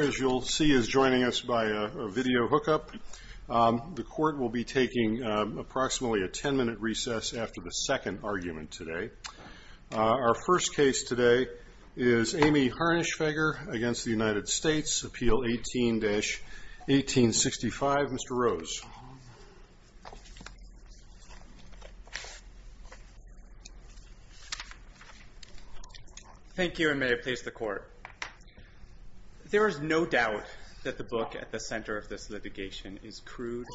As you'll see, he is joining us by a video hookup. The court will be taking approximately a 10-minute recess after the second argument today. Our first case today is Amy Harnishfeger against the United States, Appeal 18-1865. Mr. Rose. Thank you, and may I please the court. There is no doubt that the book at the center of this litigation is crude,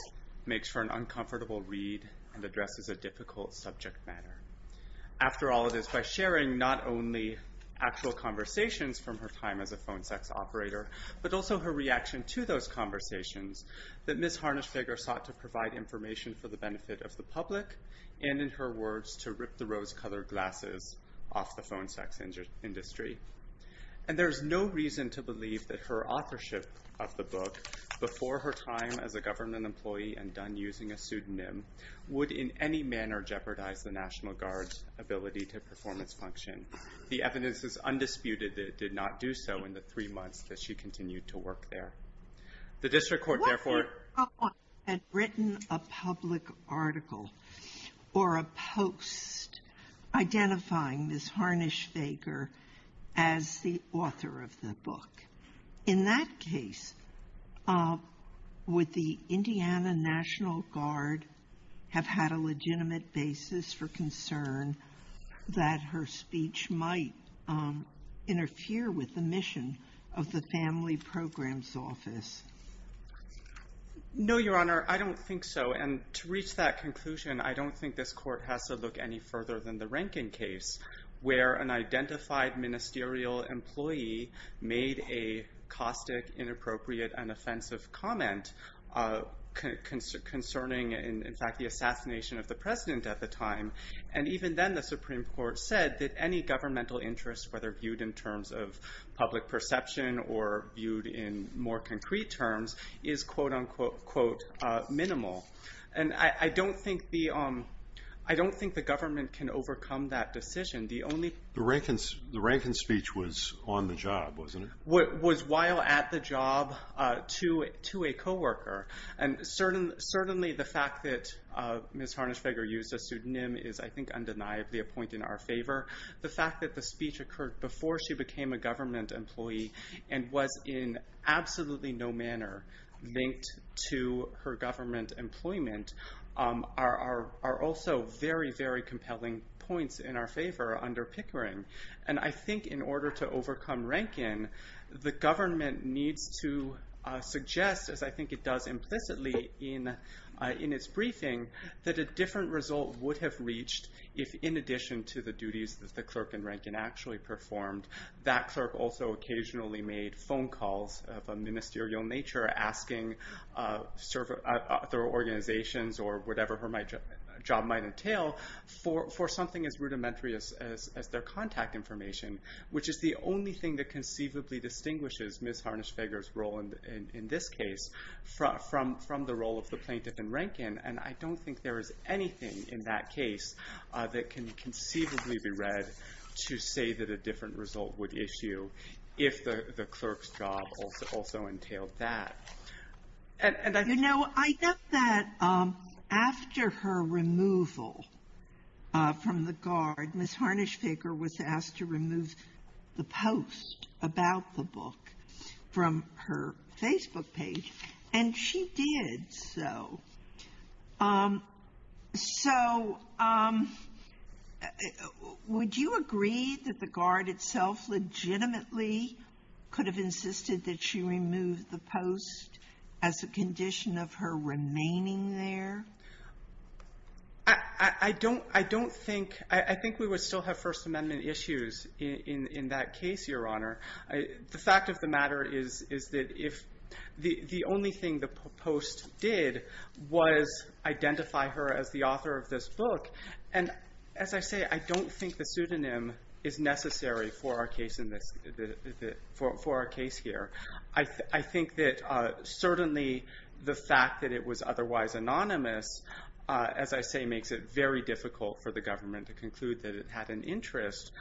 makes for an uncomfortable read, and addresses a difficult subject matter. After all, it is by sharing not only actual conversations from her time as a phone sex operator, but also her reaction to those conversations that Ms. Harnishfeger sought to provide information for the benefit of the public, and in her words, to rip the rose-colored glasses off the phone sex industry. And there is no reason to believe that her authorship of the book, before her time as a government employee and done using a pseudonym, would in any manner jeopardize the National Guard's ability to performance function. The evidence is undisputed that it did not do so in the three months that she continued to work there. The district court, therefore. Had written a public article or a post identifying Ms. Harnishfeger as the author of the book. In that case, would the Indiana National Guard have had a legitimate basis for concern that her speech might interfere with the mission of the Family Programs Office? No, Your Honor, I don't think so. And to reach that conclusion, I don't think this court has to look any further than the Rankin case, where an identified ministerial employee made a caustic, inappropriate, and offensive comment concerning, in fact, the assassination of the president at the time. And even then, the Supreme Court said that any governmental interest, whether viewed in terms of public perception or viewed in more concrete terms, is quote, unquote, quote, minimal. And I don't think the government can overcome that decision. The only- The Rankin speech was on the job, wasn't it? Was while at the job to a co-worker. And certainly, the fact that Ms. Harnishfeger used a pseudonym is, I think, undeniably a point in our favor. The fact that the speech occurred before she became a government employee and was in absolutely no manner linked to her government employment are also very, very compelling points in our favor under Pickering. And I think in order to overcome Rankin, the government needs to suggest, as I think it does implicitly in its briefing, that a different result would have reached if, in addition to the duties that the clerk in Rankin actually performed, that clerk also occasionally made phone calls of a ministerial nature, asking their organizations or whatever her job might entail for something as rudimentary as their contact information, which is the only thing that conceivably distinguishes Ms. Harnishfeger's role in this case from the role of the plaintiff in Rankin. And I don't think there is anything in that case that can conceivably be read to say that a different result would issue if the clerk's job also entailed that. And I think that after her removal from the guard, Ms. Harnishfeger was asked to remove the post about the book from her Facebook page. And she did so. So would you agree that the guard itself legitimately could have insisted that she remove the post as a condition of her remaining there? I don't think. I think we would still have First Amendment issues in that case, Your Honor. The fact of the matter is that the only thing the post did was identify her as the author of this book. And as I say, I don't think the pseudonym is necessary for our case here. I think that certainly the fact that it was otherwise anonymous, as I say, makes it very difficult for the government to conclude that it had an interest.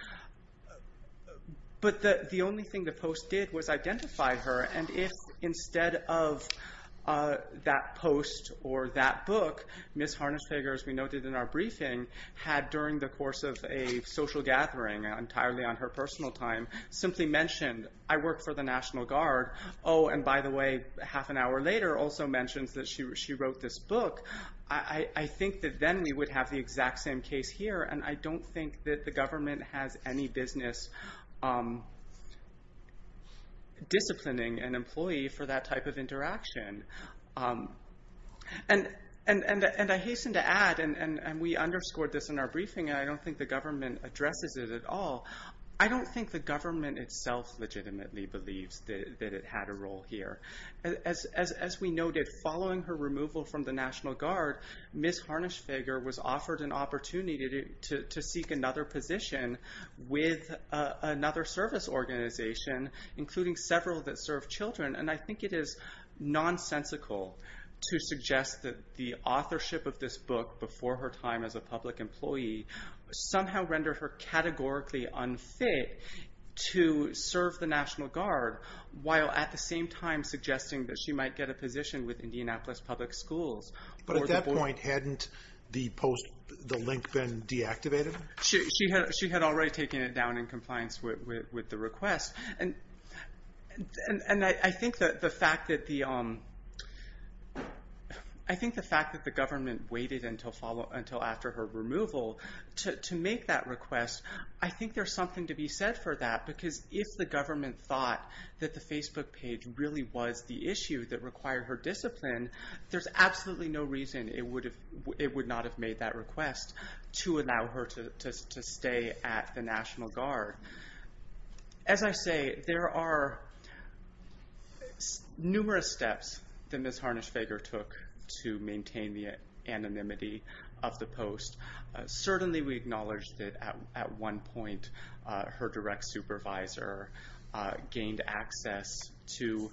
But the only thing the post did was identify her. And if instead of that post or that book, Ms. Harnishfeger, as we noted in our briefing, had during the course of a social gathering, entirely on her personal time, simply mentioned, I work for the National Guard. Oh, and by the way, half an hour later, also mentions that she wrote this book. I think that then we would have the exact same case here. And I don't think that the government has any business disciplining an employee for that type of interaction. And I hasten to add, and we underscored this in our briefing, I don't think the government addresses it at all, I don't think the government itself legitimately believes that it had a role here. As we noted, following her removal from the National Guard, Ms. Harnishfeger was offered an opportunity to seek another position with another service organization, including several that serve children. And I think it is nonsensical to suggest that the authorship of this book before her time as a public employee somehow rendered her categorically unfit to serve the National Guard, while at the same time suggesting that she might get a position with Indianapolis Public Schools. But at that point, hadn't the link been deactivated? She had already taken it down in compliance with the request. And I think the fact that the government waited until after her removal to make that request, I think there's something to be said for that. Because if the government thought that the Facebook page really was the issue that required her discipline, there's absolutely no reason it would not have made that request to allow her to stay at the National Guard. As I say, there are numerous steps that Ms. Harnishfeger took to maintain the anonymity of the post. Certainly, we acknowledge that at one point, her direct supervisor gained access to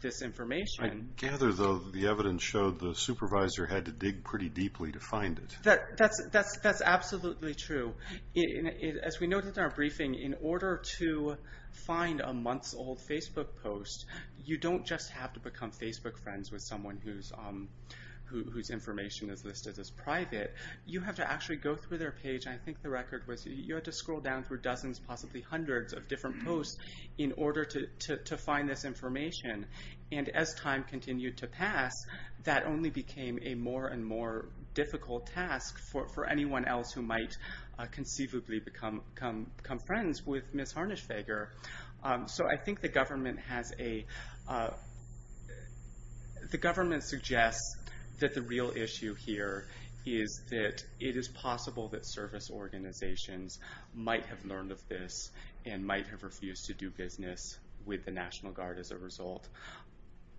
this information. I gather, though, the evidence showed the supervisor had to dig pretty deeply to find it. That's absolutely true. As we noted in our briefing, in order to find a months-old Facebook post, you don't just have to become Facebook friends with someone whose information is listed as private. You have to actually go through their page. I think the record was you had to scroll down through dozens, possibly hundreds, of different posts in order to find this information. And as time continued to pass, that only became a more and more difficult task for anyone else who might conceivably become friends with Ms. Harnishfeger. So I think the government suggests that the real issue here is that it is possible that service organizations might have learned of this and might have refused to do business with the National Guard as a result.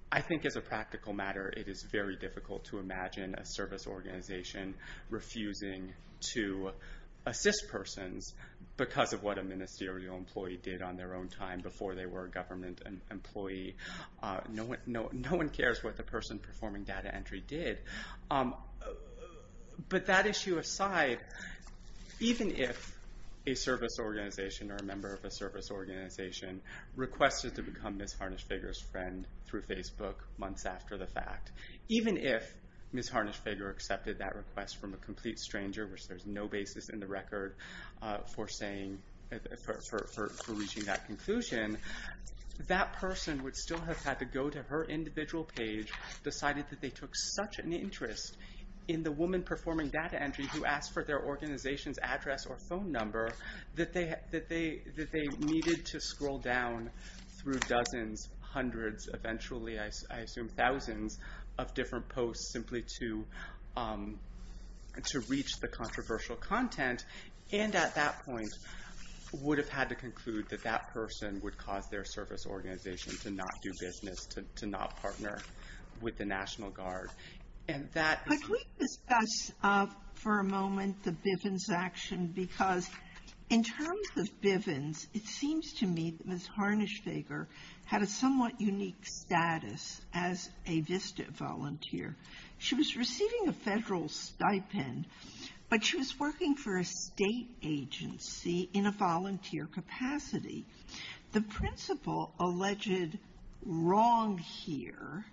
I think as a practical matter, it is very difficult to imagine a service organization refusing to assist persons because of what a ministerial employee did on their own time before they were a government employee. No one cares what the person performing data entry did. But that issue aside, even if a service organization or a member of a service organization requested to become Ms. Harnishfeger's friend through Facebook months after the fact, even if Ms. Harnishfeger accepted that request from a complete stranger, which there's no basis in the record for reaching that conclusion, that person would still have had to go to her individual page, decided that they took such an interest in the woman performing data entry who asked for their organization's address or phone number that they needed to scroll down through dozens, hundreds, eventually I assume thousands of different posts simply to reach the controversial content, and at that point would have had to conclude that that person would cause their service organization to not do business, to not partner with the National Guard. And that is- Could we discuss for a moment the Bivens action? Because in terms of Bivens, it seems to me that Ms. Harnishfeger had a somewhat unique status as a VISTA volunteer. She was receiving a federal stipend, but she was working for a state agency in a volunteer capacity. The principle alleged wrong here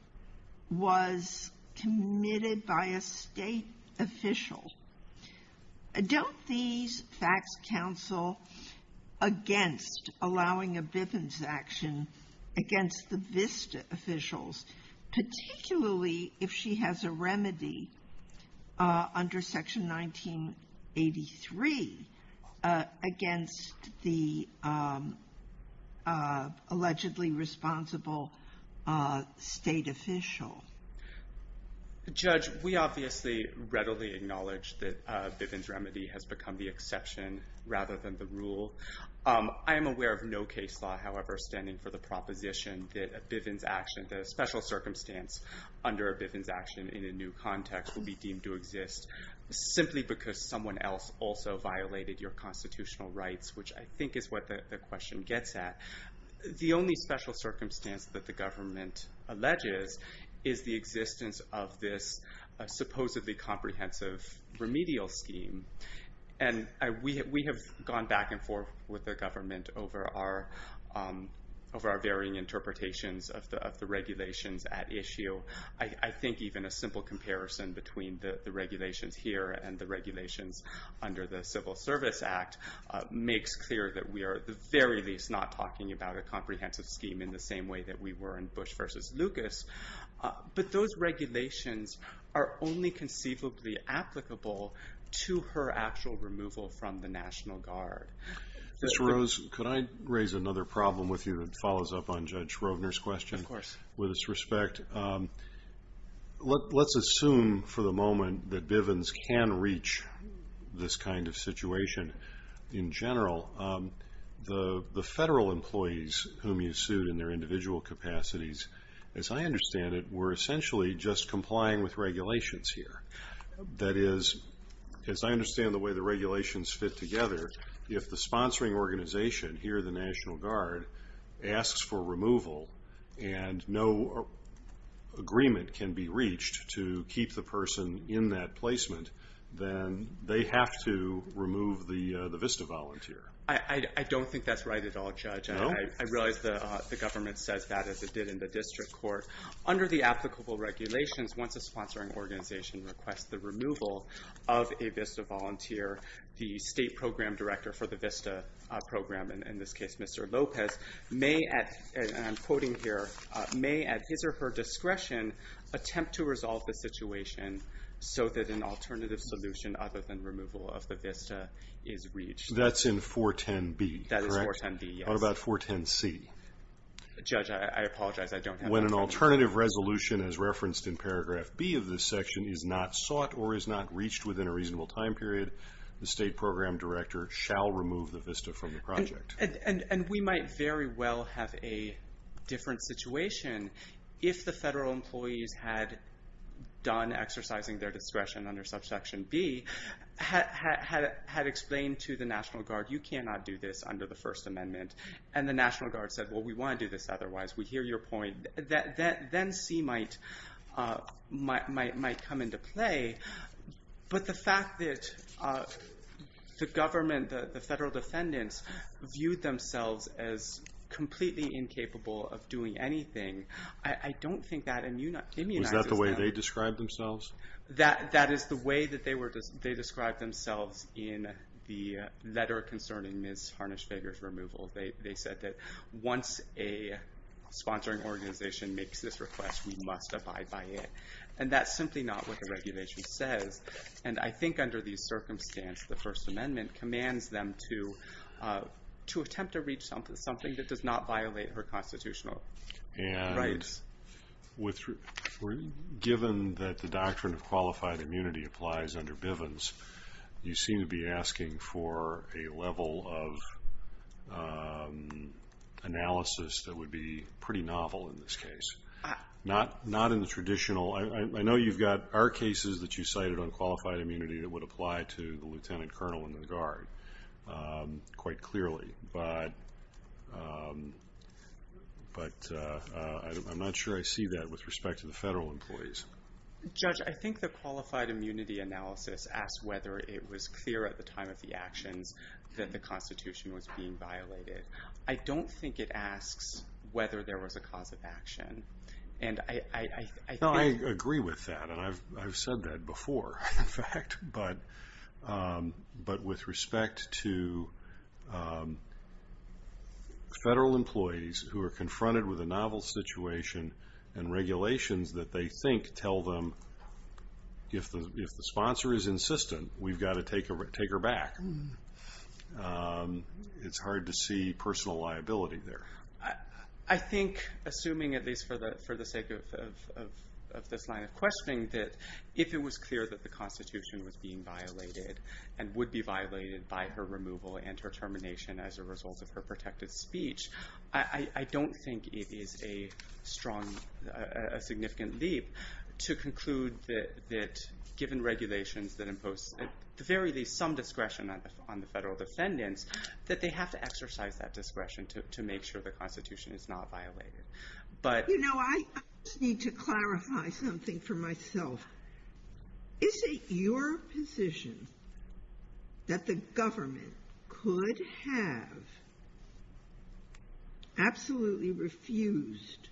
was committed by a state official. Don't these facts counsel against allowing a Bivens action against the VISTA officials, particularly if she has a remedy under Section 1983 against the allegedly responsible state official? Judge, we obviously readily acknowledge that Bivens remedy has become the exception rather than the rule. I am aware of no case law, however, standing for the proposition that a Bivens action, that a special circumstance under a Bivens action in a new context will be deemed to exist simply because someone else also violated your constitutional rights, which I think is what the question gets at. The only special circumstance that the government alleges is the existence of this supposedly comprehensive remedial scheme. And we have gone back and forth with the government over our varying interpretations of the regulations at issue. I think even a simple comparison between the regulations here and the regulations under the Civil Service Act makes clear that we are, at the very least, not talking about a comprehensive scheme in the same way that we were in Bush versus Lucas. But those regulations are only conceivably applicable to her actual removal from the National Guard. Ms. Rose, could I raise another problem with you that follows up on Judge Roegner's question? Of course. With its respect, let's assume for the moment that Bivens can reach this kind of situation. In general, the federal employees whom you sued in their individual capacities, as I understand it, were essentially just complying with regulations here. That is, as I understand the way the regulations fit together, if the sponsoring organization, here the National Guard, asks for removal and no agreement can be reached to keep the person in that placement, then they have to remove the VISTA volunteer. I don't think that's right at all, Judge. No? I realize the government says that, as it did in the district court. Under the applicable regulations, once a sponsoring organization requests the removal of a VISTA volunteer, the state program director for the VISTA program, and in this case, Mr. Lopez, may at, and I'm quoting here, may, at his or her discretion, attempt to resolve the situation so that an alternative solution, other than removal of the VISTA, is reached. That's in 410B, correct? That is 410B, yes. What about 410C? Judge, I apologize. I don't have that. When an alternative resolution, as referenced in paragraph B of this section, is not sought or is not reached within a reasonable time period, the state program director shall remove the VISTA from the project. And we might very well have a different situation if the federal employees had done exercising their discretion under subsection B, had explained to the National Guard, you cannot do this under the First Amendment. And the National Guard said, well, we want to do this otherwise. We hear your point. Then C might come into play. But the fact that the government, the federal defendants, viewed themselves as completely incapable of doing anything, I don't think that immunizes them. Was that the way they described themselves? That is the way that they described themselves in the letter concerning Ms. Harnish-Feger's removal. They said that once a sponsoring organization makes this request, we must abide by it. And that's simply not what the regulation says. And I think under these circumstances, the First Amendment commands them to attempt to reach something that does not violate her constitutional rights. And given that the doctrine of qualified immunity applies under Bivens, you seem to be asking for a level of analysis that would be pretty novel in this case. Not in the traditional, I know you've got our cases that you cited on qualified immunity that would apply to the lieutenant colonel and the guard, quite clearly. But I'm not sure I see that with respect to the federal employees. Judge, I think the qualified immunity analysis asked whether it was clear at the time of the actions that the Constitution was being violated. I don't think it asks whether there was a cause of action. And I think- No, I agree with that. And I've said that before, in fact. But with respect to federal employees who are confronted with a novel situation and regulations that they think tell them, if the sponsor is insistent, we've got to take her back. It's hard to see personal liability there. I think, assuming at least for the sake of this line of questioning, that if it was clear that the Constitution was being violated and would be violated by her removal and her termination as a result of her protected speech, I don't think it is a strong, a significant leap to conclude that given regulations that impose, at the very least, some discretion on the federal defendants, that they have to exercise that discretion to make sure the Constitution is not violated, but- You know, I just need to clarify something for myself. Is it your position that the government could have absolutely refused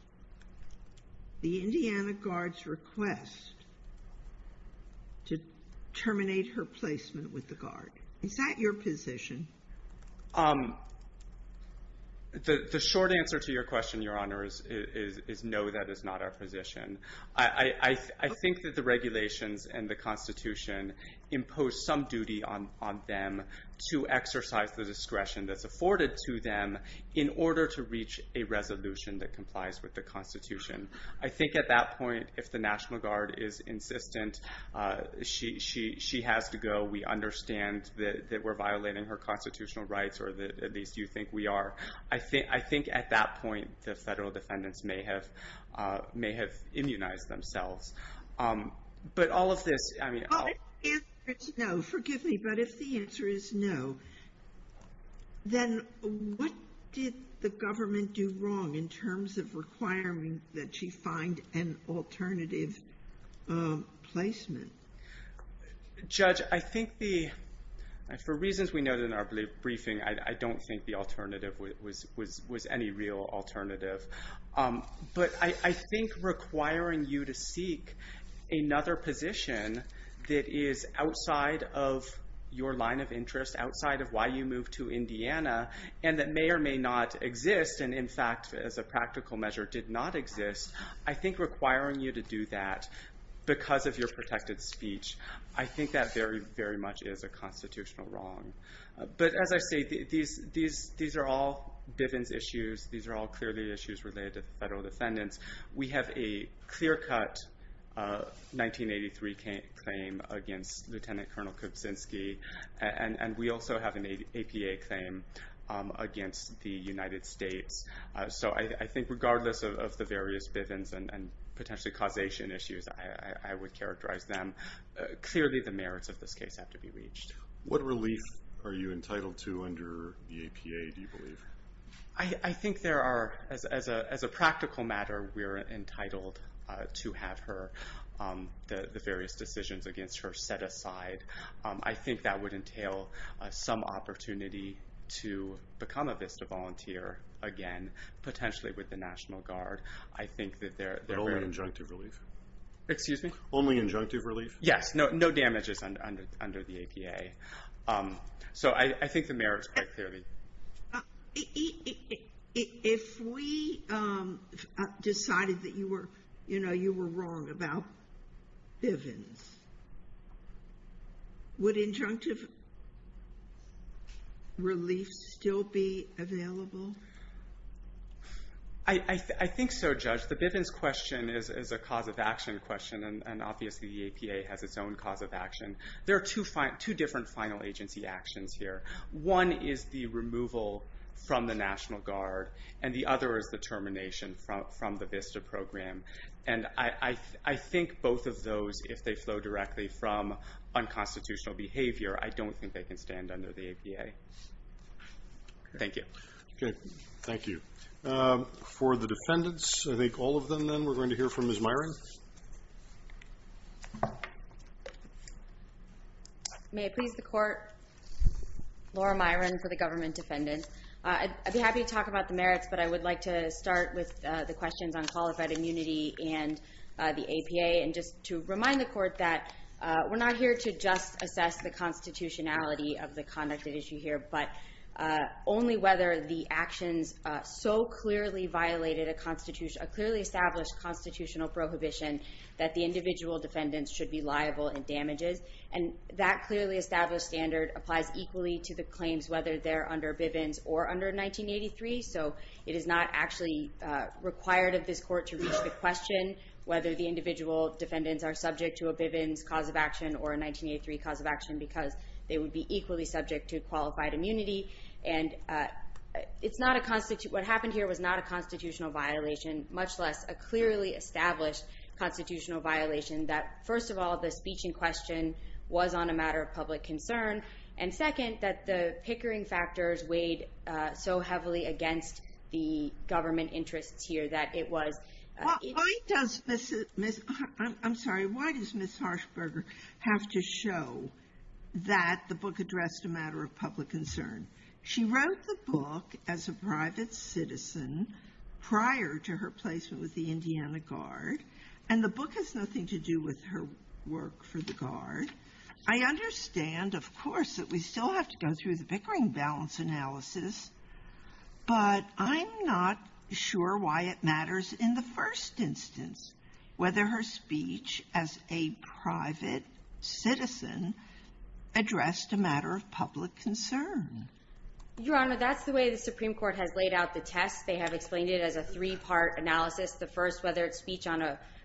the Indiana Guard's request to terminate her placement with the Guard? Is that your position? The short answer to your question, Your Honor, is no, that is not our position. I think that the regulations and the Constitution impose some duty on them to exercise the discretion that's afforded to them in order to reach a resolution that complies with the Constitution. I think at that point, if the National Guard is insistent, she has to go, we understand that we're violating her constitutional rights, or at least you think we are. I think at that point, the federal defendants may have immunized themselves. But all of this, I mean- Well, if the answer is no, forgive me, but if the answer is no, then what did the government do wrong in terms of requiring that she find an alternative placement? Judge, I think the, for reasons we noted in our briefing, I don't think the alternative was any real alternative. But I think requiring you to seek another position that is outside of your line of interest, outside of why you moved to Indiana, and that may or may not exist, and in fact, as a practical measure, did not exist, I think requiring you to do that because of your protected speech, I think that very, very much is a constitutional wrong. But as I say, these are all Bivens issues, these are all clearly issues related to the federal defendants. We have a clear-cut 1983 claim against Lieutenant Colonel Kuczynski, and we also have an APA claim against the United States. So I think regardless of the various Bivens and potentially causation issues, I would characterize them, clearly the merits of this case have to be reached. What relief are you entitled to under the APA, do you believe? I think there are, as a practical matter, we're entitled to have her, the various decisions against her, set aside. I think that would entail some opportunity to become a VISTA volunteer again, potentially with the National Guard. I think that they're very- But only injunctive relief? Excuse me? Only injunctive relief? Yes, no damages under the APA. So I think the merits quite clearly. If we decided that you were wrong about Bivens, would injunctive relief still be available? I think so, Judge. The Bivens question is a cause of action question, and obviously the APA has its own cause of action. There are two different final agency actions here. One is the removal from the National Guard, and the other is the termination from the VISTA program. And I think both of those, if they flow directly from unconstitutional behavior, I don't think they can stand under the APA. Thank you. Okay, thank you. For the defendants, I think all of them then, May I please, the court? Laura Myron for the government defendants. I'd be happy to talk about the merits, but I would like to start with the questions on qualified immunity and the APA. And just to remind the court that we're not here to just assess the constitutionality of the conduct at issue here, but only whether the actions so clearly violated a clearly established constitutional prohibition that the individual defendants should be liable in damages. And that clearly established standard applies equally to the claims, whether they're under Bivens or under 1983. So it is not actually required of this court to reach the question whether the individual defendants are subject to a Bivens cause of action or a 1983 cause of action, because they would be equally subject to qualified immunity. And what happened here was not a constitutional violation, that, first of all, the speech in question was on a matter of public concern. And second, that the pickering factors weighed so heavily against the government interests here that it was... I'm sorry, why does Ms. Harshberger have to show that the book addressed a matter of public concern? She wrote the book as a private citizen prior to her placement with the Indiana Guard. And the book has nothing to do with her work for the Guard. I understand, of course, that we still have to go through the pickering balance analysis, but I'm not sure why it matters in the first instance, whether her speech as a private citizen addressed a matter of public concern. Your Honor, that's the way the Supreme Court has laid out the test. They have explained it as a three-part analysis. The first, whether it's speech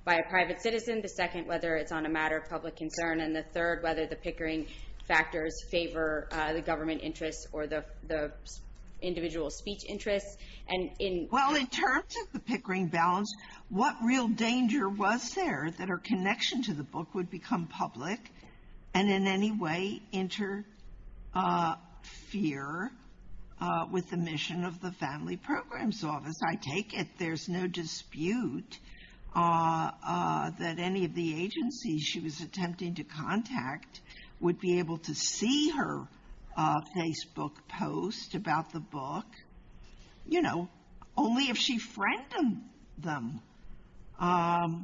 by a private citizen. The second, whether it's on a matter of public concern. And the third, whether the pickering factors favor the government interests or the individual speech interests. Well, in terms of the pickering balance, what real danger was there that her connection to the book would become public and in any way interfere with the mission of the Family Programs Office? Because I take it there's no dispute that any of the agencies she was attempting to contact would be able to see her Facebook post about the book. You know, only if she friended them. For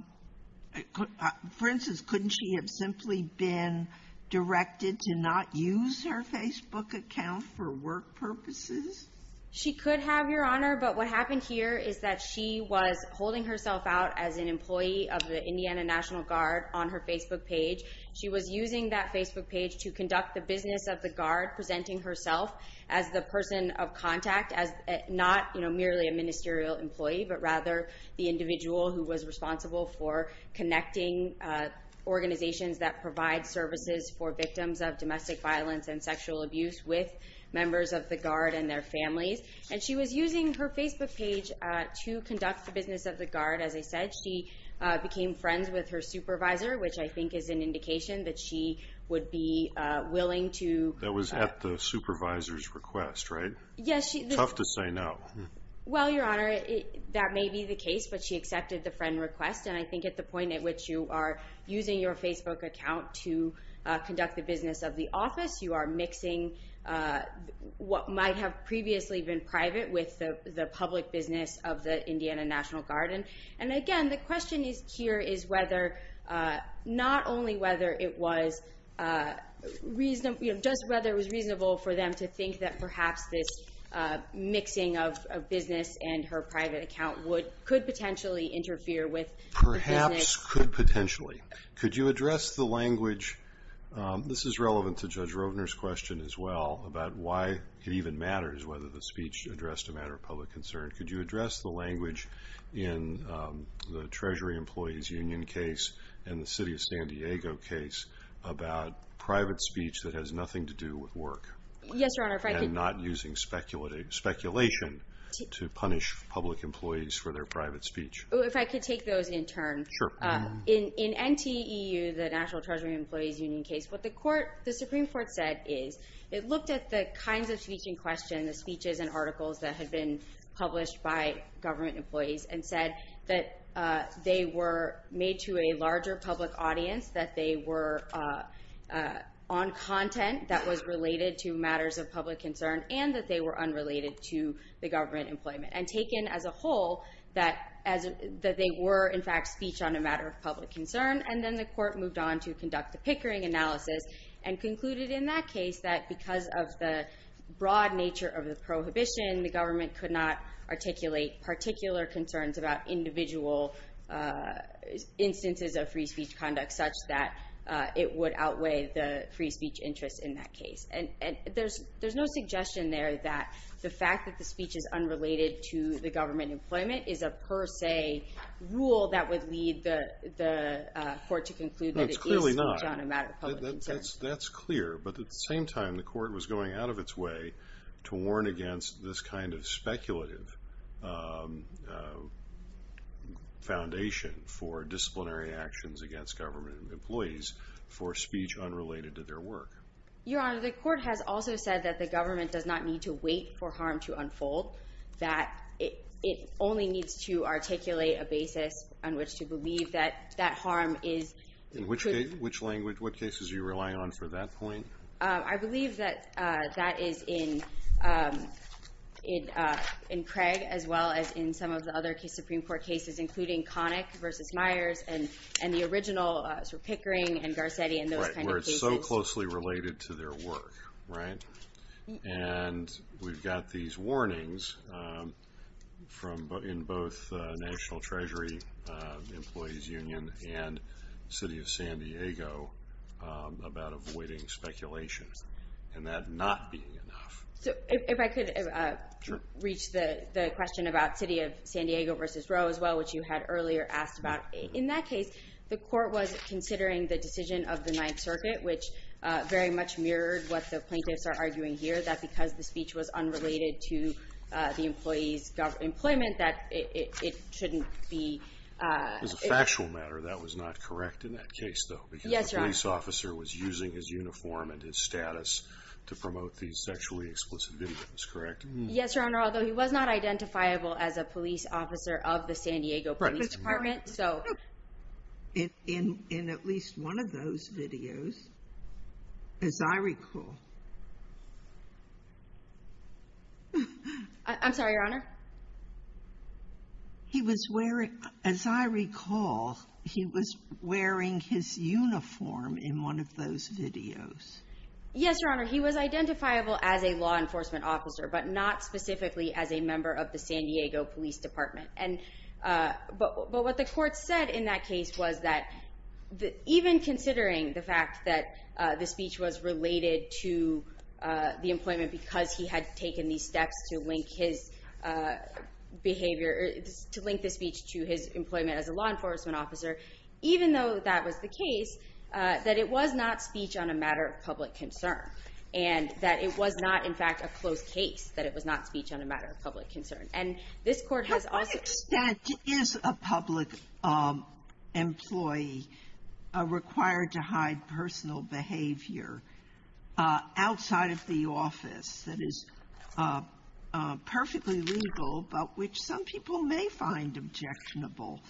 instance, couldn't she have simply been directed to not use her Facebook account for work purposes? She could have, Your Honor, but what happened here is that she was holding herself out as an employee of the Indiana National Guard on her Facebook page. She was using that Facebook page to conduct the business of the Guard, presenting herself as the person of contact, as not merely a ministerial employee, but rather the individual who was responsible for connecting organizations that provide services for victims of domestic violence and sexual abuse with members of the Guard and their families. And she was using her Facebook page to conduct the business of the Guard. As I said, she became friends with her supervisor, which I think is an indication that she would be willing to- That was at the supervisor's request, right? Yes, she- Tough to say no. Well, Your Honor, that may be the case, but she accepted the friend request. And I think at the point at which you are using your Facebook account to conduct the business of the office, you are mixing what might have previously been private with the public business of the Indiana National Guard. And again, the question here is whether, not only whether it was reasonable, just whether it was reasonable for them to think that perhaps this mixing of business and her private account could potentially interfere with the business- Perhaps could potentially. Could you address the language, this is relevant to Judge Rovner's question as well, about why it even matters whether the speech addressed a matter of public concern. Could you address the language in the Treasury Employees Union case and the City of San Diego case about private speech that has nothing to do with work? Yes, Your Honor, if I could- And not using speculation to punish public employees for their private speech. If I could take those in turn. Sure. In NTEU, the National Treasury Employees Union case, what the Supreme Court said is, it looked at the kinds of speech in question, the speeches and articles that had been published by government employees, and said that they were made to a larger public audience, that they were on content that was related to matters of public concern, and that they were unrelated to the government employment. And taken as a whole, that they were, in fact, speech on a matter of public concern. And then the court moved on to conduct a Pickering analysis and concluded in that case that because of the broad nature of the prohibition, the government could not articulate particular concerns about individual instances of free speech conduct such that it would outweigh the free speech interest in that case. And there's no suggestion there that the fact that the speech is unrelated to the government employment is a per se rule that would lead the court to conclude that it is speech on a matter of public concern. That's clear, but at the same time, the court was going out of its way to warn against this kind of speculative foundation for disciplinary actions against government employees for speech unrelated to their work. Your Honor, the court has also said that the government does not need to wait for harm to unfold, that it only needs to articulate a basis on which to believe that that harm is- In which language? What cases are you relying on for that point? I believe that that is in Craig, as well as in some of the other Supreme Court cases, including Connick v. Myers and the original Pickering and Garcetti and those kind of cases. Right, where it's so closely related to their work, right? And we've got these warnings from both National Treasury Employees Union and City of San Diego about avoiding speculation and that not being enough. So if I could reach the question about City of San Diego v. Roe as well, which you had earlier asked about. In that case, the court was considering the decision of the Ninth Circuit, which very much mirrored what the plaintiffs are arguing here, that because the speech was unrelated to the employee's employment, that it shouldn't be- As a factual matter, that was not correct in that case, though. Yes, Your Honor. Because the police officer was using his uniform and his status to promote these sexually explicit videos, correct? Yes, Your Honor, although he was not identifiable as a police officer of the San Diego Police Department. So in at least one of those videos, as I recall- I'm sorry, Your Honor? He was wearing, as I recall, he was wearing his uniform in one of those videos. Yes, Your Honor, he was identifiable as a law enforcement officer, but not specifically as a member of the San Diego Police Department. And, but what the court said in that case was that even considering the fact that the speech was related to the employment because he had taken these steps to link his behavior, to link the speech to his employment as a law enforcement officer, even though that was the case, that it was not speech on a matter of public concern and that it was not, in fact, a closed case, that it was not speech on a matter of public concern. And this court has also- To what extent is a public employee required to hide personal behavior outside of the office that is perfectly legal, but which some people may find objectionable,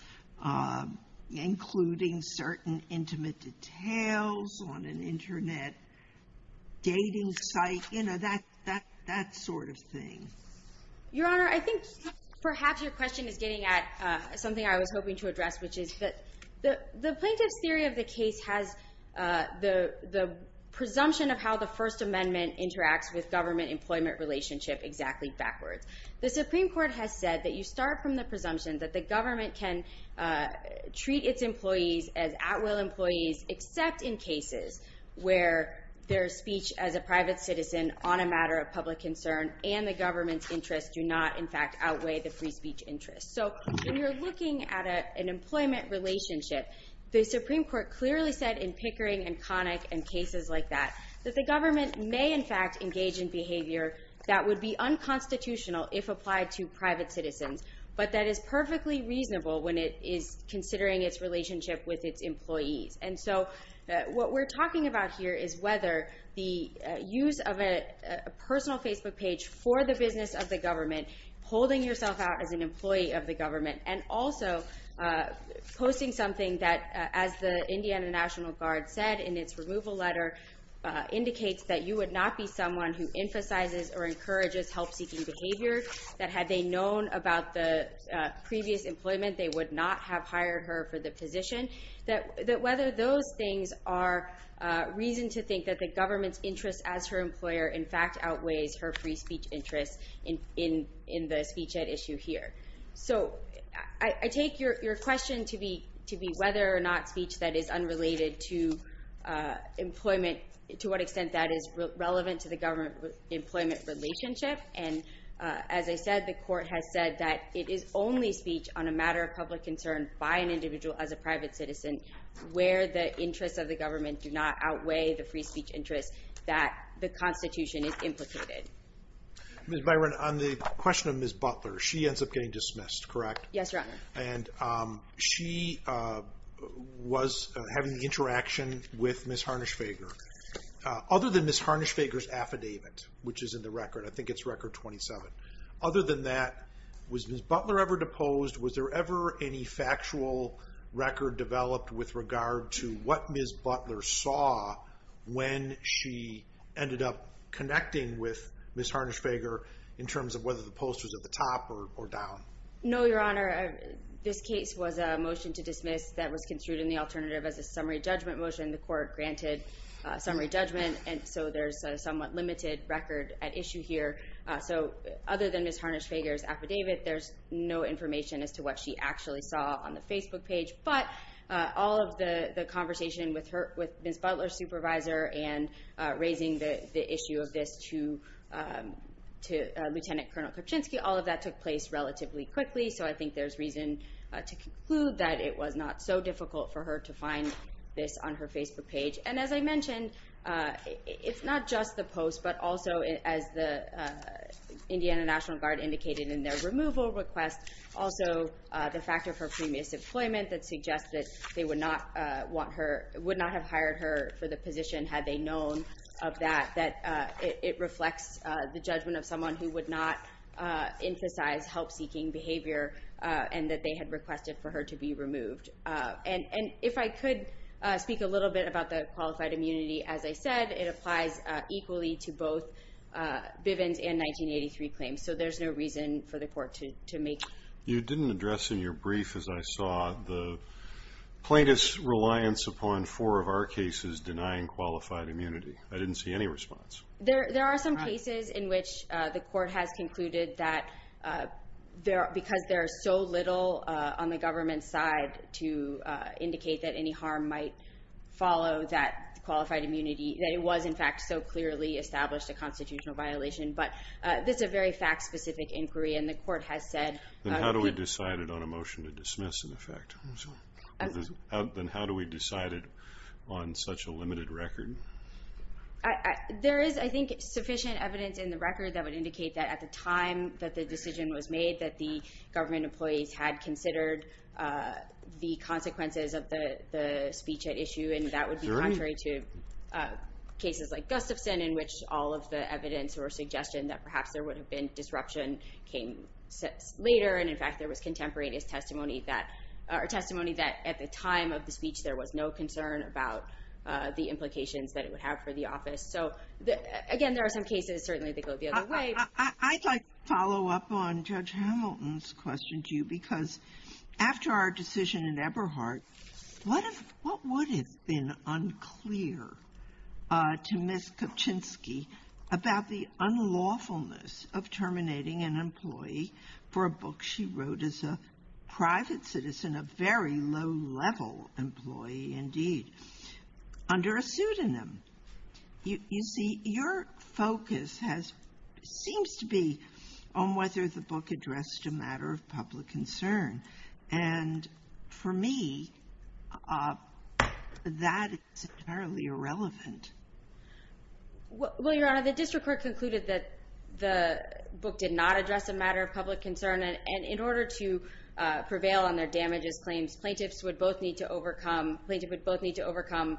including certain intimate details on an internet dating site, you know, that sort of thing? Your Honor, I think perhaps your question is getting at something I was hoping to address, which is that the plaintiff's theory of the case has the presumption of how the First Amendment interacts with government employment relationship exactly backwards. The Supreme Court has said that you start from the presumption that the government can treat its employees as at-will employees except in cases where their speech as a private citizen on a matter of public concern and the government's interest do not, in fact, outweigh the free speech interest. So when you're looking at an employment relationship, the Supreme Court clearly said in Pickering and Connick and cases like that, that the government may, in fact, engage in behavior that would be unconstitutional if applied to private citizens, but that is perfectly reasonable when it is considering its relationship with its employees. And so what we're talking about here is whether the use of a personal Facebook page for the business of the government, holding yourself out as an employee of the government, and also posting something that, as the Indiana National Guard said in its removal letter, indicates that you would not be someone who emphasizes or encourages help-seeking behavior, that had they known about the previous employment, they would not have hired her for the position, that whether those things are reason to think that the government's interest as her employer, in fact, outweighs her free speech interest in the speech at issue here. So I take your question to be whether or not speech that is unrelated to employment, to what extent that is relevant to the government-employment relationship. And as I said, the court has said that it is only speech on a matter of public concern by an individual as a private citizen where the interests of the government do not outweigh the free speech interests that the Constitution is implicated. Ms. Byron, on the question of Ms. Butler, she ends up getting dismissed, correct? Yes, Your Honor. And she was having the interaction with Ms. Harnisch-Fager. Other than Ms. Harnisch-Fager's affidavit, which is in the record, I think it's record 27. Other than that, was Ms. Butler ever deposed? Was there ever any factual record developed with regard to what Ms. Butler saw when she ended up connecting with Ms. Harnisch-Fager in terms of whether the post was at the top or down? No, Your Honor. This case was a motion to dismiss that was construed in the alternative as a summary judgment motion. The court granted summary judgment, and so there's a somewhat limited record at issue here. So other than Ms. Harnisch-Fager's affidavit, there's no information as to what she actually saw on the Facebook page. But all of the conversation with Ms. Butler's supervisor and raising the issue of this to Lieutenant Colonel Kuczynski all of that took place relatively quickly. So I think there's reason to conclude that it was not so difficult for her to find this on her Facebook page. And as I mentioned, it's not just the post, but also as the Indiana National Guard indicated in their removal request, also the fact of her previous employment that suggests that they would not have hired her for the position had they known of that, that it reflects the judgment of someone who would not emphasize help-seeking behavior and that they had requested for her to be removed. And if I could speak a little bit about the qualified immunity, as I said, it applies equally to both Bivens and 1983 claims. So there's no reason for the court to make. You didn't address in your brief, as I saw, the plaintiff's reliance upon four of our cases denying qualified immunity. I didn't see any response. There are some cases in which the court has concluded that because there are so little on the government side to indicate that any harm might follow that qualified immunity, that it was in fact so clearly established a constitutional violation, but this is a very fact-specific inquiry and the court has said- Then how do we decide it on a motion to dismiss an effect? Then how do we decide it on such a limited record? There is, I think, sufficient evidence in the record that would indicate that at the time that the decision was made that the government employees had considered the consequences of the speech at issue and that would be contrary to cases like Gustafson in which all of the evidence or suggestion that perhaps there would have been disruption came later and in fact, there was contemporaneous testimony that, or testimony that at the time of the speech, there was no concern about the implications that it would have for the office. So again, there are some cases, certainly they go the other way. I'd like to follow up on Judge Hamilton's question to you because after our decision in Eberhardt, what would have been unclear to Ms. Kopchinsky about the unlawfulness of terminating an employee for a book she wrote as a private citizen, a very low-level employee indeed, under a pseudonym? You see, your focus seems to be on whether the book addressed a matter of public concern and for me, that is entirely irrelevant. Well, Your Honor, the district court concluded that the book did not address a matter of public concern and in order to prevail on their damages claims, plaintiffs would both need to overcome, plaintiff would both need to overcome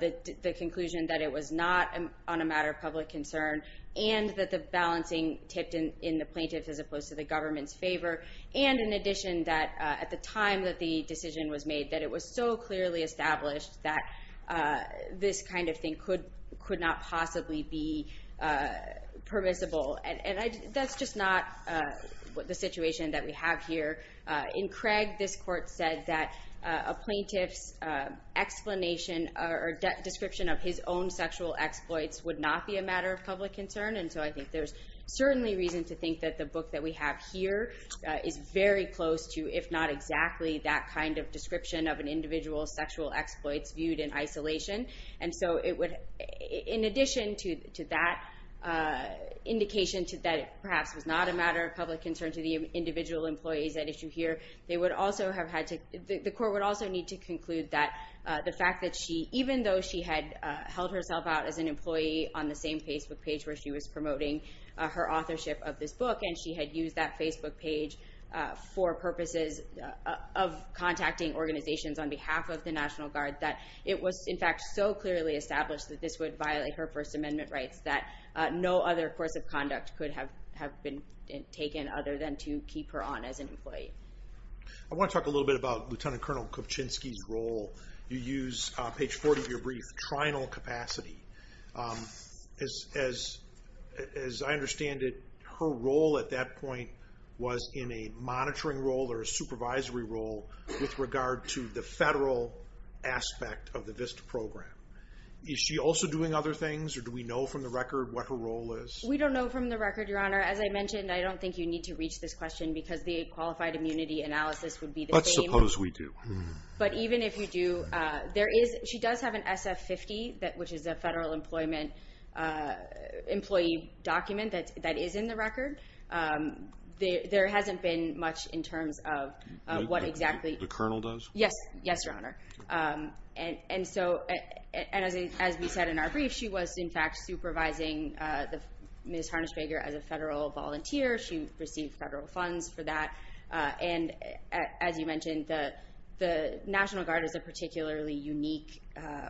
the conclusion that it was not on a matter of public concern and that the balancing tipped in the plaintiff as opposed to the government's favor and in addition, that at the time that the decision was made that it was so clearly established that this kind of thing could not possibly be permissible and that's just not the situation that we have here. In Craig, this court said that a plaintiff's explanation or description of his own sexual exploits would not be a matter of public concern and so I think there's certainly reason to think that the book that we have here is very close to, if not exactly, that kind of description of an individual's sexual exploits viewed in isolation and so it would, in addition to that indication to that it perhaps was not a matter of public concern to the individual employees at issue here, they would also have had to, the court would also need to conclude that the fact that she, even though she had held herself out as an employee on the same Facebook page where she was promoting her authorship of this book and she had used that Facebook page for purposes of contacting organizations on behalf of the National Guard, that it was in fact so clearly established that this would violate her First Amendment rights that no other course of conduct could have been taken other than to keep her on as an employee. I want to talk a little bit about Lieutenant Colonel Kopchinsky's role. You use page 40 of your brief, trinal capacity. As I understand it, her role at that point was in a monitoring role or a supervisory role with regard to the federal aspect of the VISTA program. Is she also doing other things or do we know from the record what her role is? We don't know from the record, Your Honor. As I mentioned, I don't think you need to reach this question because the qualified immunity analysis would be the same. But suppose we do. But even if you do, there is, she does have an SF-50 which is a federal employment employee document that is in the record. There hasn't been much in terms of what exactly- The colonel does? Yes, Your Honor. And as we said in our brief, she was in fact supervising Ms. Harnisch-Bager as a federal volunteer. She received federal funds for that. And as you mentioned, the National Guard is a particularly unique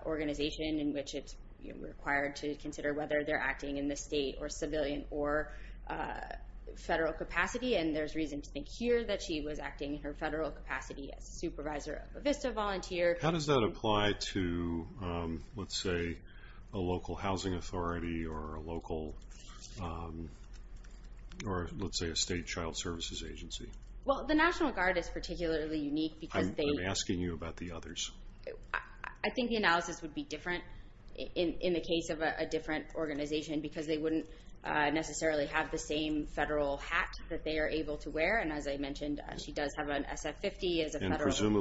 organization in which it's required to consider whether they're acting in the state or civilian or federal capacity. And there's reason to think here that she was acting in her federal capacity as a supervisor of a VISTA volunteer. How does that apply to, let's say, a local housing authority or a local, or let's say a state child services agency? Well, the National Guard is particularly unique because they- I'm asking you about the others. I think the analysis would be different in the case of a different organization because they wouldn't necessarily have the same federal hat that they are able to wear. And as I mentioned, she does have an SF-50 as a federal civilian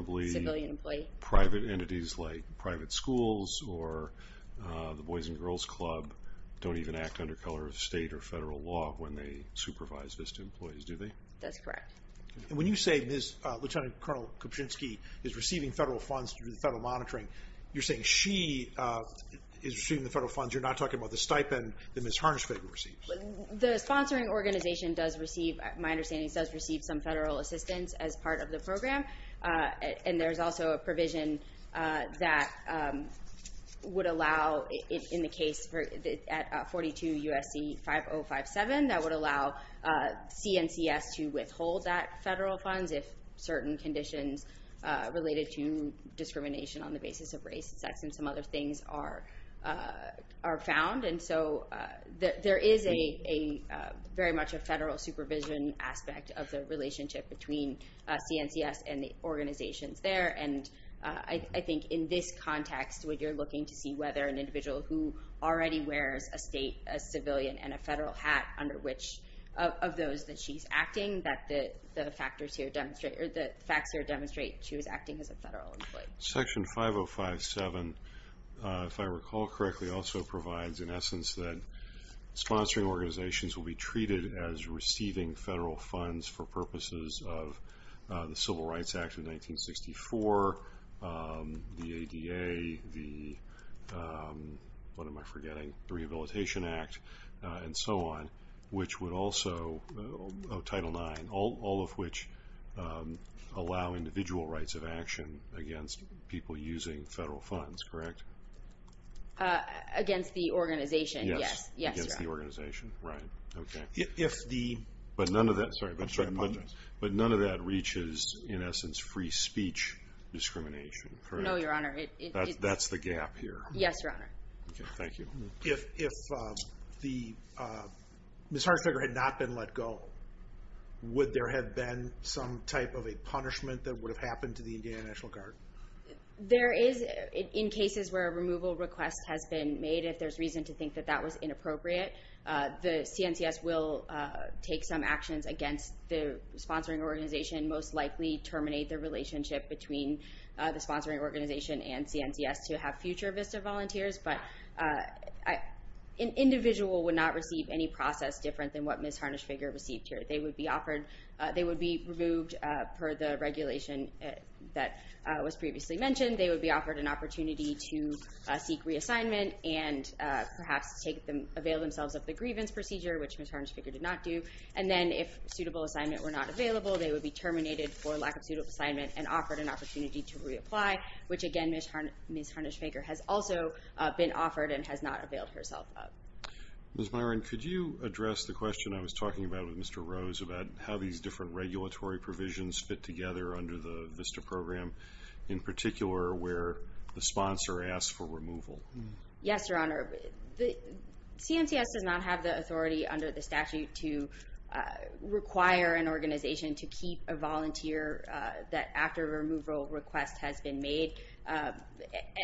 employee. And presumably, private entities like private schools or the Boys and Girls Club don't even act under color of state or federal law when they supervise VISTA employees, do they? That's correct. And when you say Lieutenant Colonel Kopchinsky is receiving federal funds through the federal monitoring, you're saying she is receiving the federal funds. You're not talking about the stipend that Ms. Harnischvig receives. The sponsoring organization does receive, my understanding, does receive some federal assistance as part of the program. And there's also a provision that would allow, in the case at 42 USC 5057, that would allow CNCS to withhold that federal funds if certain conditions related to discrimination on the basis of race, sex, and some other things are found. And so there is very much a federal supervision aspect of the relationship between CNCS and the organizations there. And I think in this context, what you're looking to see whether an individual who already wears a state, a civilian, and a federal hat under which of those that she's acting, that the facts here demonstrate she was acting as a federal employee. Section 5057, if I recall correctly, also provides an essence that sponsoring organizations will be treated as receiving federal funds for purposes of the Civil Rights Act of 1964, the ADA, the, what am I forgetting, the Rehabilitation Act, and so on, which would also, Title IX, all of which allow individual rights of action against people using federal funds, correct? Against the organization, yes. Yes, Your Honor. Against the organization, right, okay. If the- But none of that, sorry, but none of that reaches, in essence, free speech discrimination, correct? No, Your Honor, it- That's the gap here. Yes, Your Honor. Okay, thank you. If the, Ms. Hartsinger had not been let go, would there have been some type of a punishment that would have happened to the Indiana National Guard? There is, in cases where a removal request has been made, if there's reason to think that that was inappropriate, the CNCS will take some actions against the sponsoring organization, most likely terminate the relationship between the sponsoring organization and CNCS to have future VISTA volunteers, but an individual would not receive any process different than what Ms. Harnisch-Figure received here. They would be offered, they would be removed per the regulation that was previously mentioned. They would be offered an opportunity to seek reassignment and perhaps avail themselves of the grievance procedure, which Ms. Harnisch-Figure did not do, and then if suitable assignment were not available, they would be terminated for lack of suitable assignment and offered an opportunity to reapply, which again, Ms. Harnisch-Figure has also been offered and has not availed herself of. Ms. Myron, could you address the question I was talking about with Mr. Rose about how these different regulatory provisions fit together under the VISTA program, in particular where the sponsor asks for removal? Yes, Your Honor. CNCS does not have the authority under the statute to require an organization to keep a volunteer that after a removal request has been made,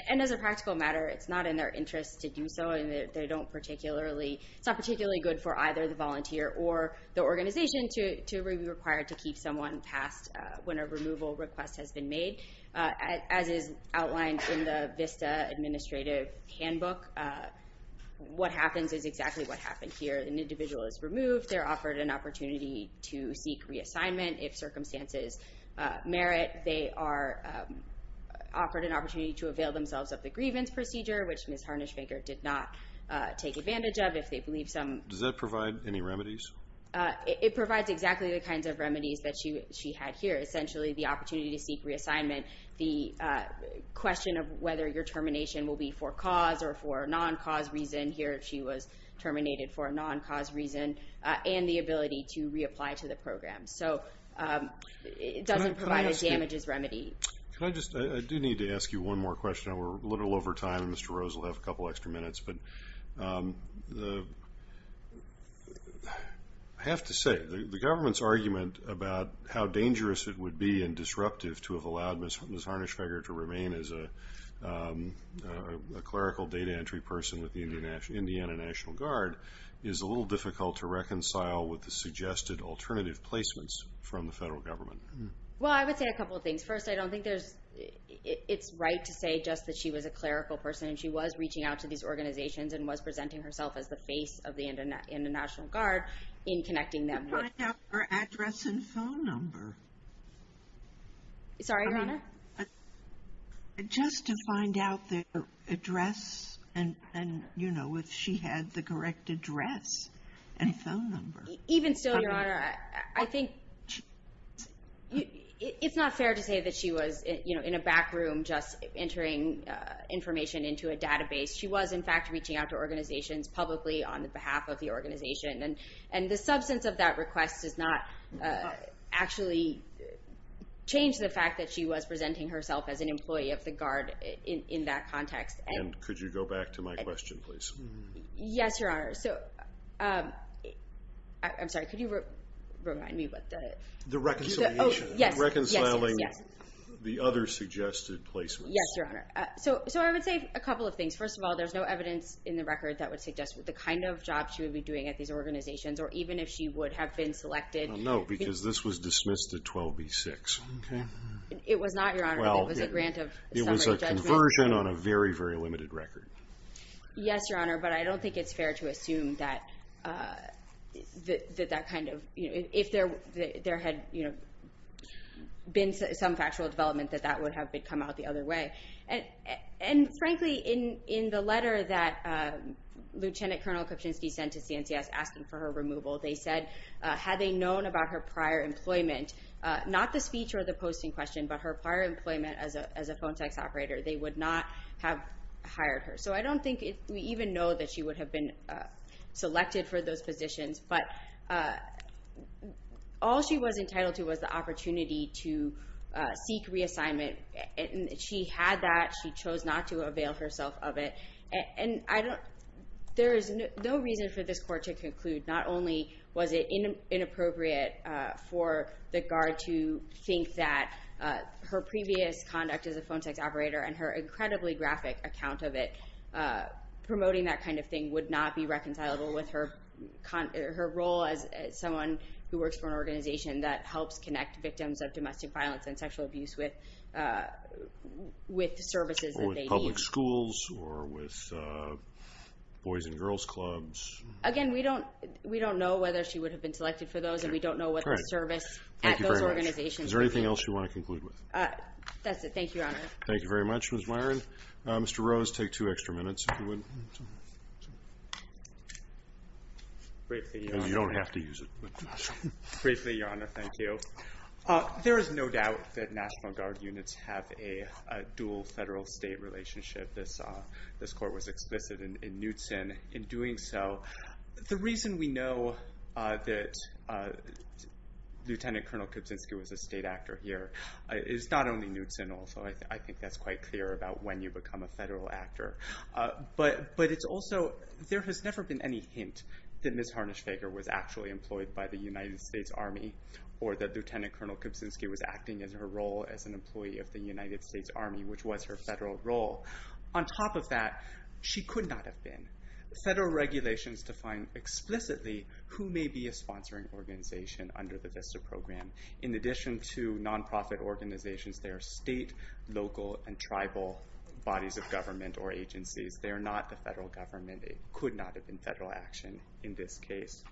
and as a practical matter, it's not in their interest to do so, and they don't particularly, it's not particularly good for either the volunteer or the organization to be required to keep someone passed when a removal request has been made. As is outlined in the VISTA Administrative Handbook, what happens is exactly what happened here. An individual is removed, they're offered an opportunity to seek reassignment if circumstances merit, they are offered an opportunity to avail themselves of the grievance procedure, which Ms. Harnisch-Figure did not take advantage of if they believe some... It provides exactly the kinds of remedies that she had here, essentially the opportunity to seek reassignment, the question of whether your termination will be for cause or for a non-cause reason, here she was terminated for a non-cause reason, and the ability to reapply to the program. So it doesn't provide a damages remedy. Can I just, I do need to ask you one more question. We're a little over time, and Mr. Rose will have a couple extra minutes, but I have to say, the government's argument about how dangerous it would be and disruptive to have allowed Ms. Harnisch-Figure to remain as a clerical data entry person with the Indiana National Guard is a little difficult to reconcile with the suggested alternative placements from the federal government. Well, I would say a couple of things. First, I don't think it's right to say just that she was a clerical person, and she was reaching out to these organizations and was presenting herself as the face of the Indiana National Guard in connecting them with- To find out her address and phone number. Sorry, Your Honor? Just to find out their address, and if she had the correct address and phone number. Even still, Your Honor, I think it's not fair to say that she was in a back room just entering information into a database. She was, in fact, reaching out to organizations publicly on behalf of the organization, and the substance of that request does not actually change the fact that she was presenting herself as an employee of the Guard in that context. And could you go back to my question, please? Yes, Your Honor. So, I'm sorry, could you remind me what the- The reconciliation. Yes, yes, yes. The other suggested placements. Yes, Your Honor. So, I would say a couple of things. First of all, there's no evidence in the record that would suggest the kind of job she would be doing at these organizations, or even if she would have been selected. No, because this was dismissed at 12B6, okay? It was not, Your Honor, but it was a grant of summary judgment. It was a conversion on a very, very limited record. Yes, Your Honor, but I don't think it's fair to assume that that kind of, if there had been some factual development, that that would have come out the other way. And frankly, in the letter that Lieutenant Colonel Kopchinsky sent to CNCS asking for her removal, they said, had they known about her prior employment, not the speech or the posting question, but her prior employment as a phone text operator, they would not have hired her. So, I don't think we even know that she would have been selected for those positions, but all she was entitled to was the opportunity to seek reassignment. She had that. She chose not to avail herself of it. And I don't, there is no reason for this court to conclude, not only was it inappropriate for the guard to think that her previous conduct as a phone text operator and her incredibly graphic account of it, promoting that kind of thing would not be reconcilable with her role as someone who works for an organization that helps connect victims of domestic violence and sexual abuse with services that they need. Or with public schools or with boys and girls clubs. Again, we don't know whether she would have been selected for those, and we don't know what the service at those organizations would be. Is there anything else you want to conclude with? That's it. Thank you, Your Honor. Thank you very much, Ms. Myron. Mr. Rose, take two extra minutes if you would. Briefly, Your Honor. Because you don't have to use it. Briefly, Your Honor, thank you. There is no doubt that National Guard units have a dual federal state relationship. This court was explicit in Knutson in doing so. The reason we know that Lieutenant Colonel Kuczynski was a state actor here is not only Knutson also. I think that's quite clear about when you become a federal actor. But it's also, there has never been any hint that Ms. Harnisch-Feger was actually employed by the United States Army, or that Lieutenant Colonel Kuczynski was acting as her role as an employee of the United States Army, which was her federal role. On top of that, she could not have been. Federal regulations define explicitly who may be a sponsoring organization under the VISTA program. In addition to non-profit organizations, there are state, local, and tribal bodies of government, or agencies, they are not the federal government. They could not have been federal action in this case.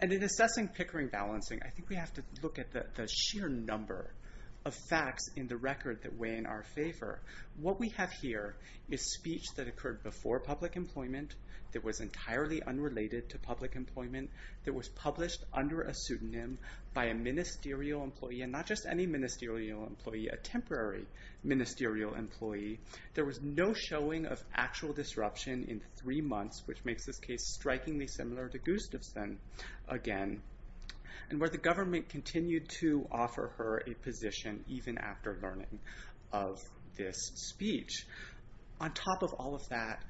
And in assessing Pickering balancing, I think we have to look at the sheer number of facts in the record that weigh in our favor. What we have here is speech that occurred before public employment, that was entirely unrelated to public employment, that was published under a pseudonym by a ministerial employee, and not just any ministerial employee, a temporary ministerial employee. There was no showing of actual disruption in three months, which makes this case strikingly similar to Gustafson again. And where the government continued to offer her a position even after learning of this speech. On top of all of that,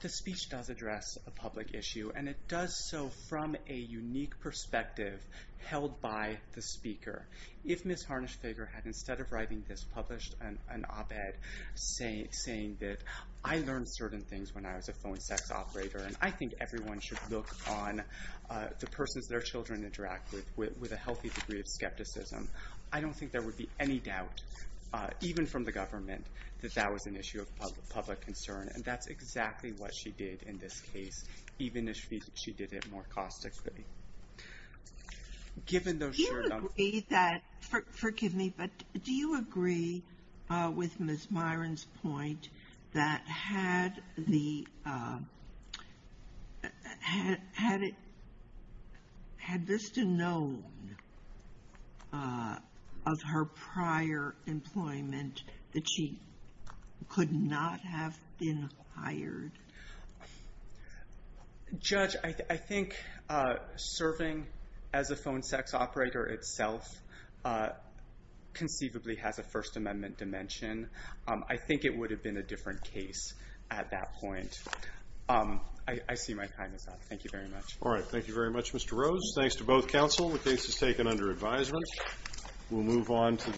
the speech does address a public issue, and it does so from a unique perspective held by the speaker. If Ms. Harnisch-Feger had, instead of writing this, published an op-ed saying that, I learned certain things when I was a phone sex operator, and I think everyone should look on the persons their children interact with with a healthy degree of skepticism, I don't think there would be any doubt, even from the government, that that was an issue of public concern. And that's exactly what she did in this case, even if she did it more caustically. Given those sheer numbers- Forgive me, but do you agree with Ms. Myron's point that had the, had Vista known of her prior employment that she could not have been hired? Judge, I think serving as a phone sex operator itself conceivably has a First Amendment dimension. I think it would have been a different case at that point. I see my time is up. Thank you very much. All right, thank you very much, Mr. Rose. Thanks to both counsel. The case is taken under advisement. We'll move on to-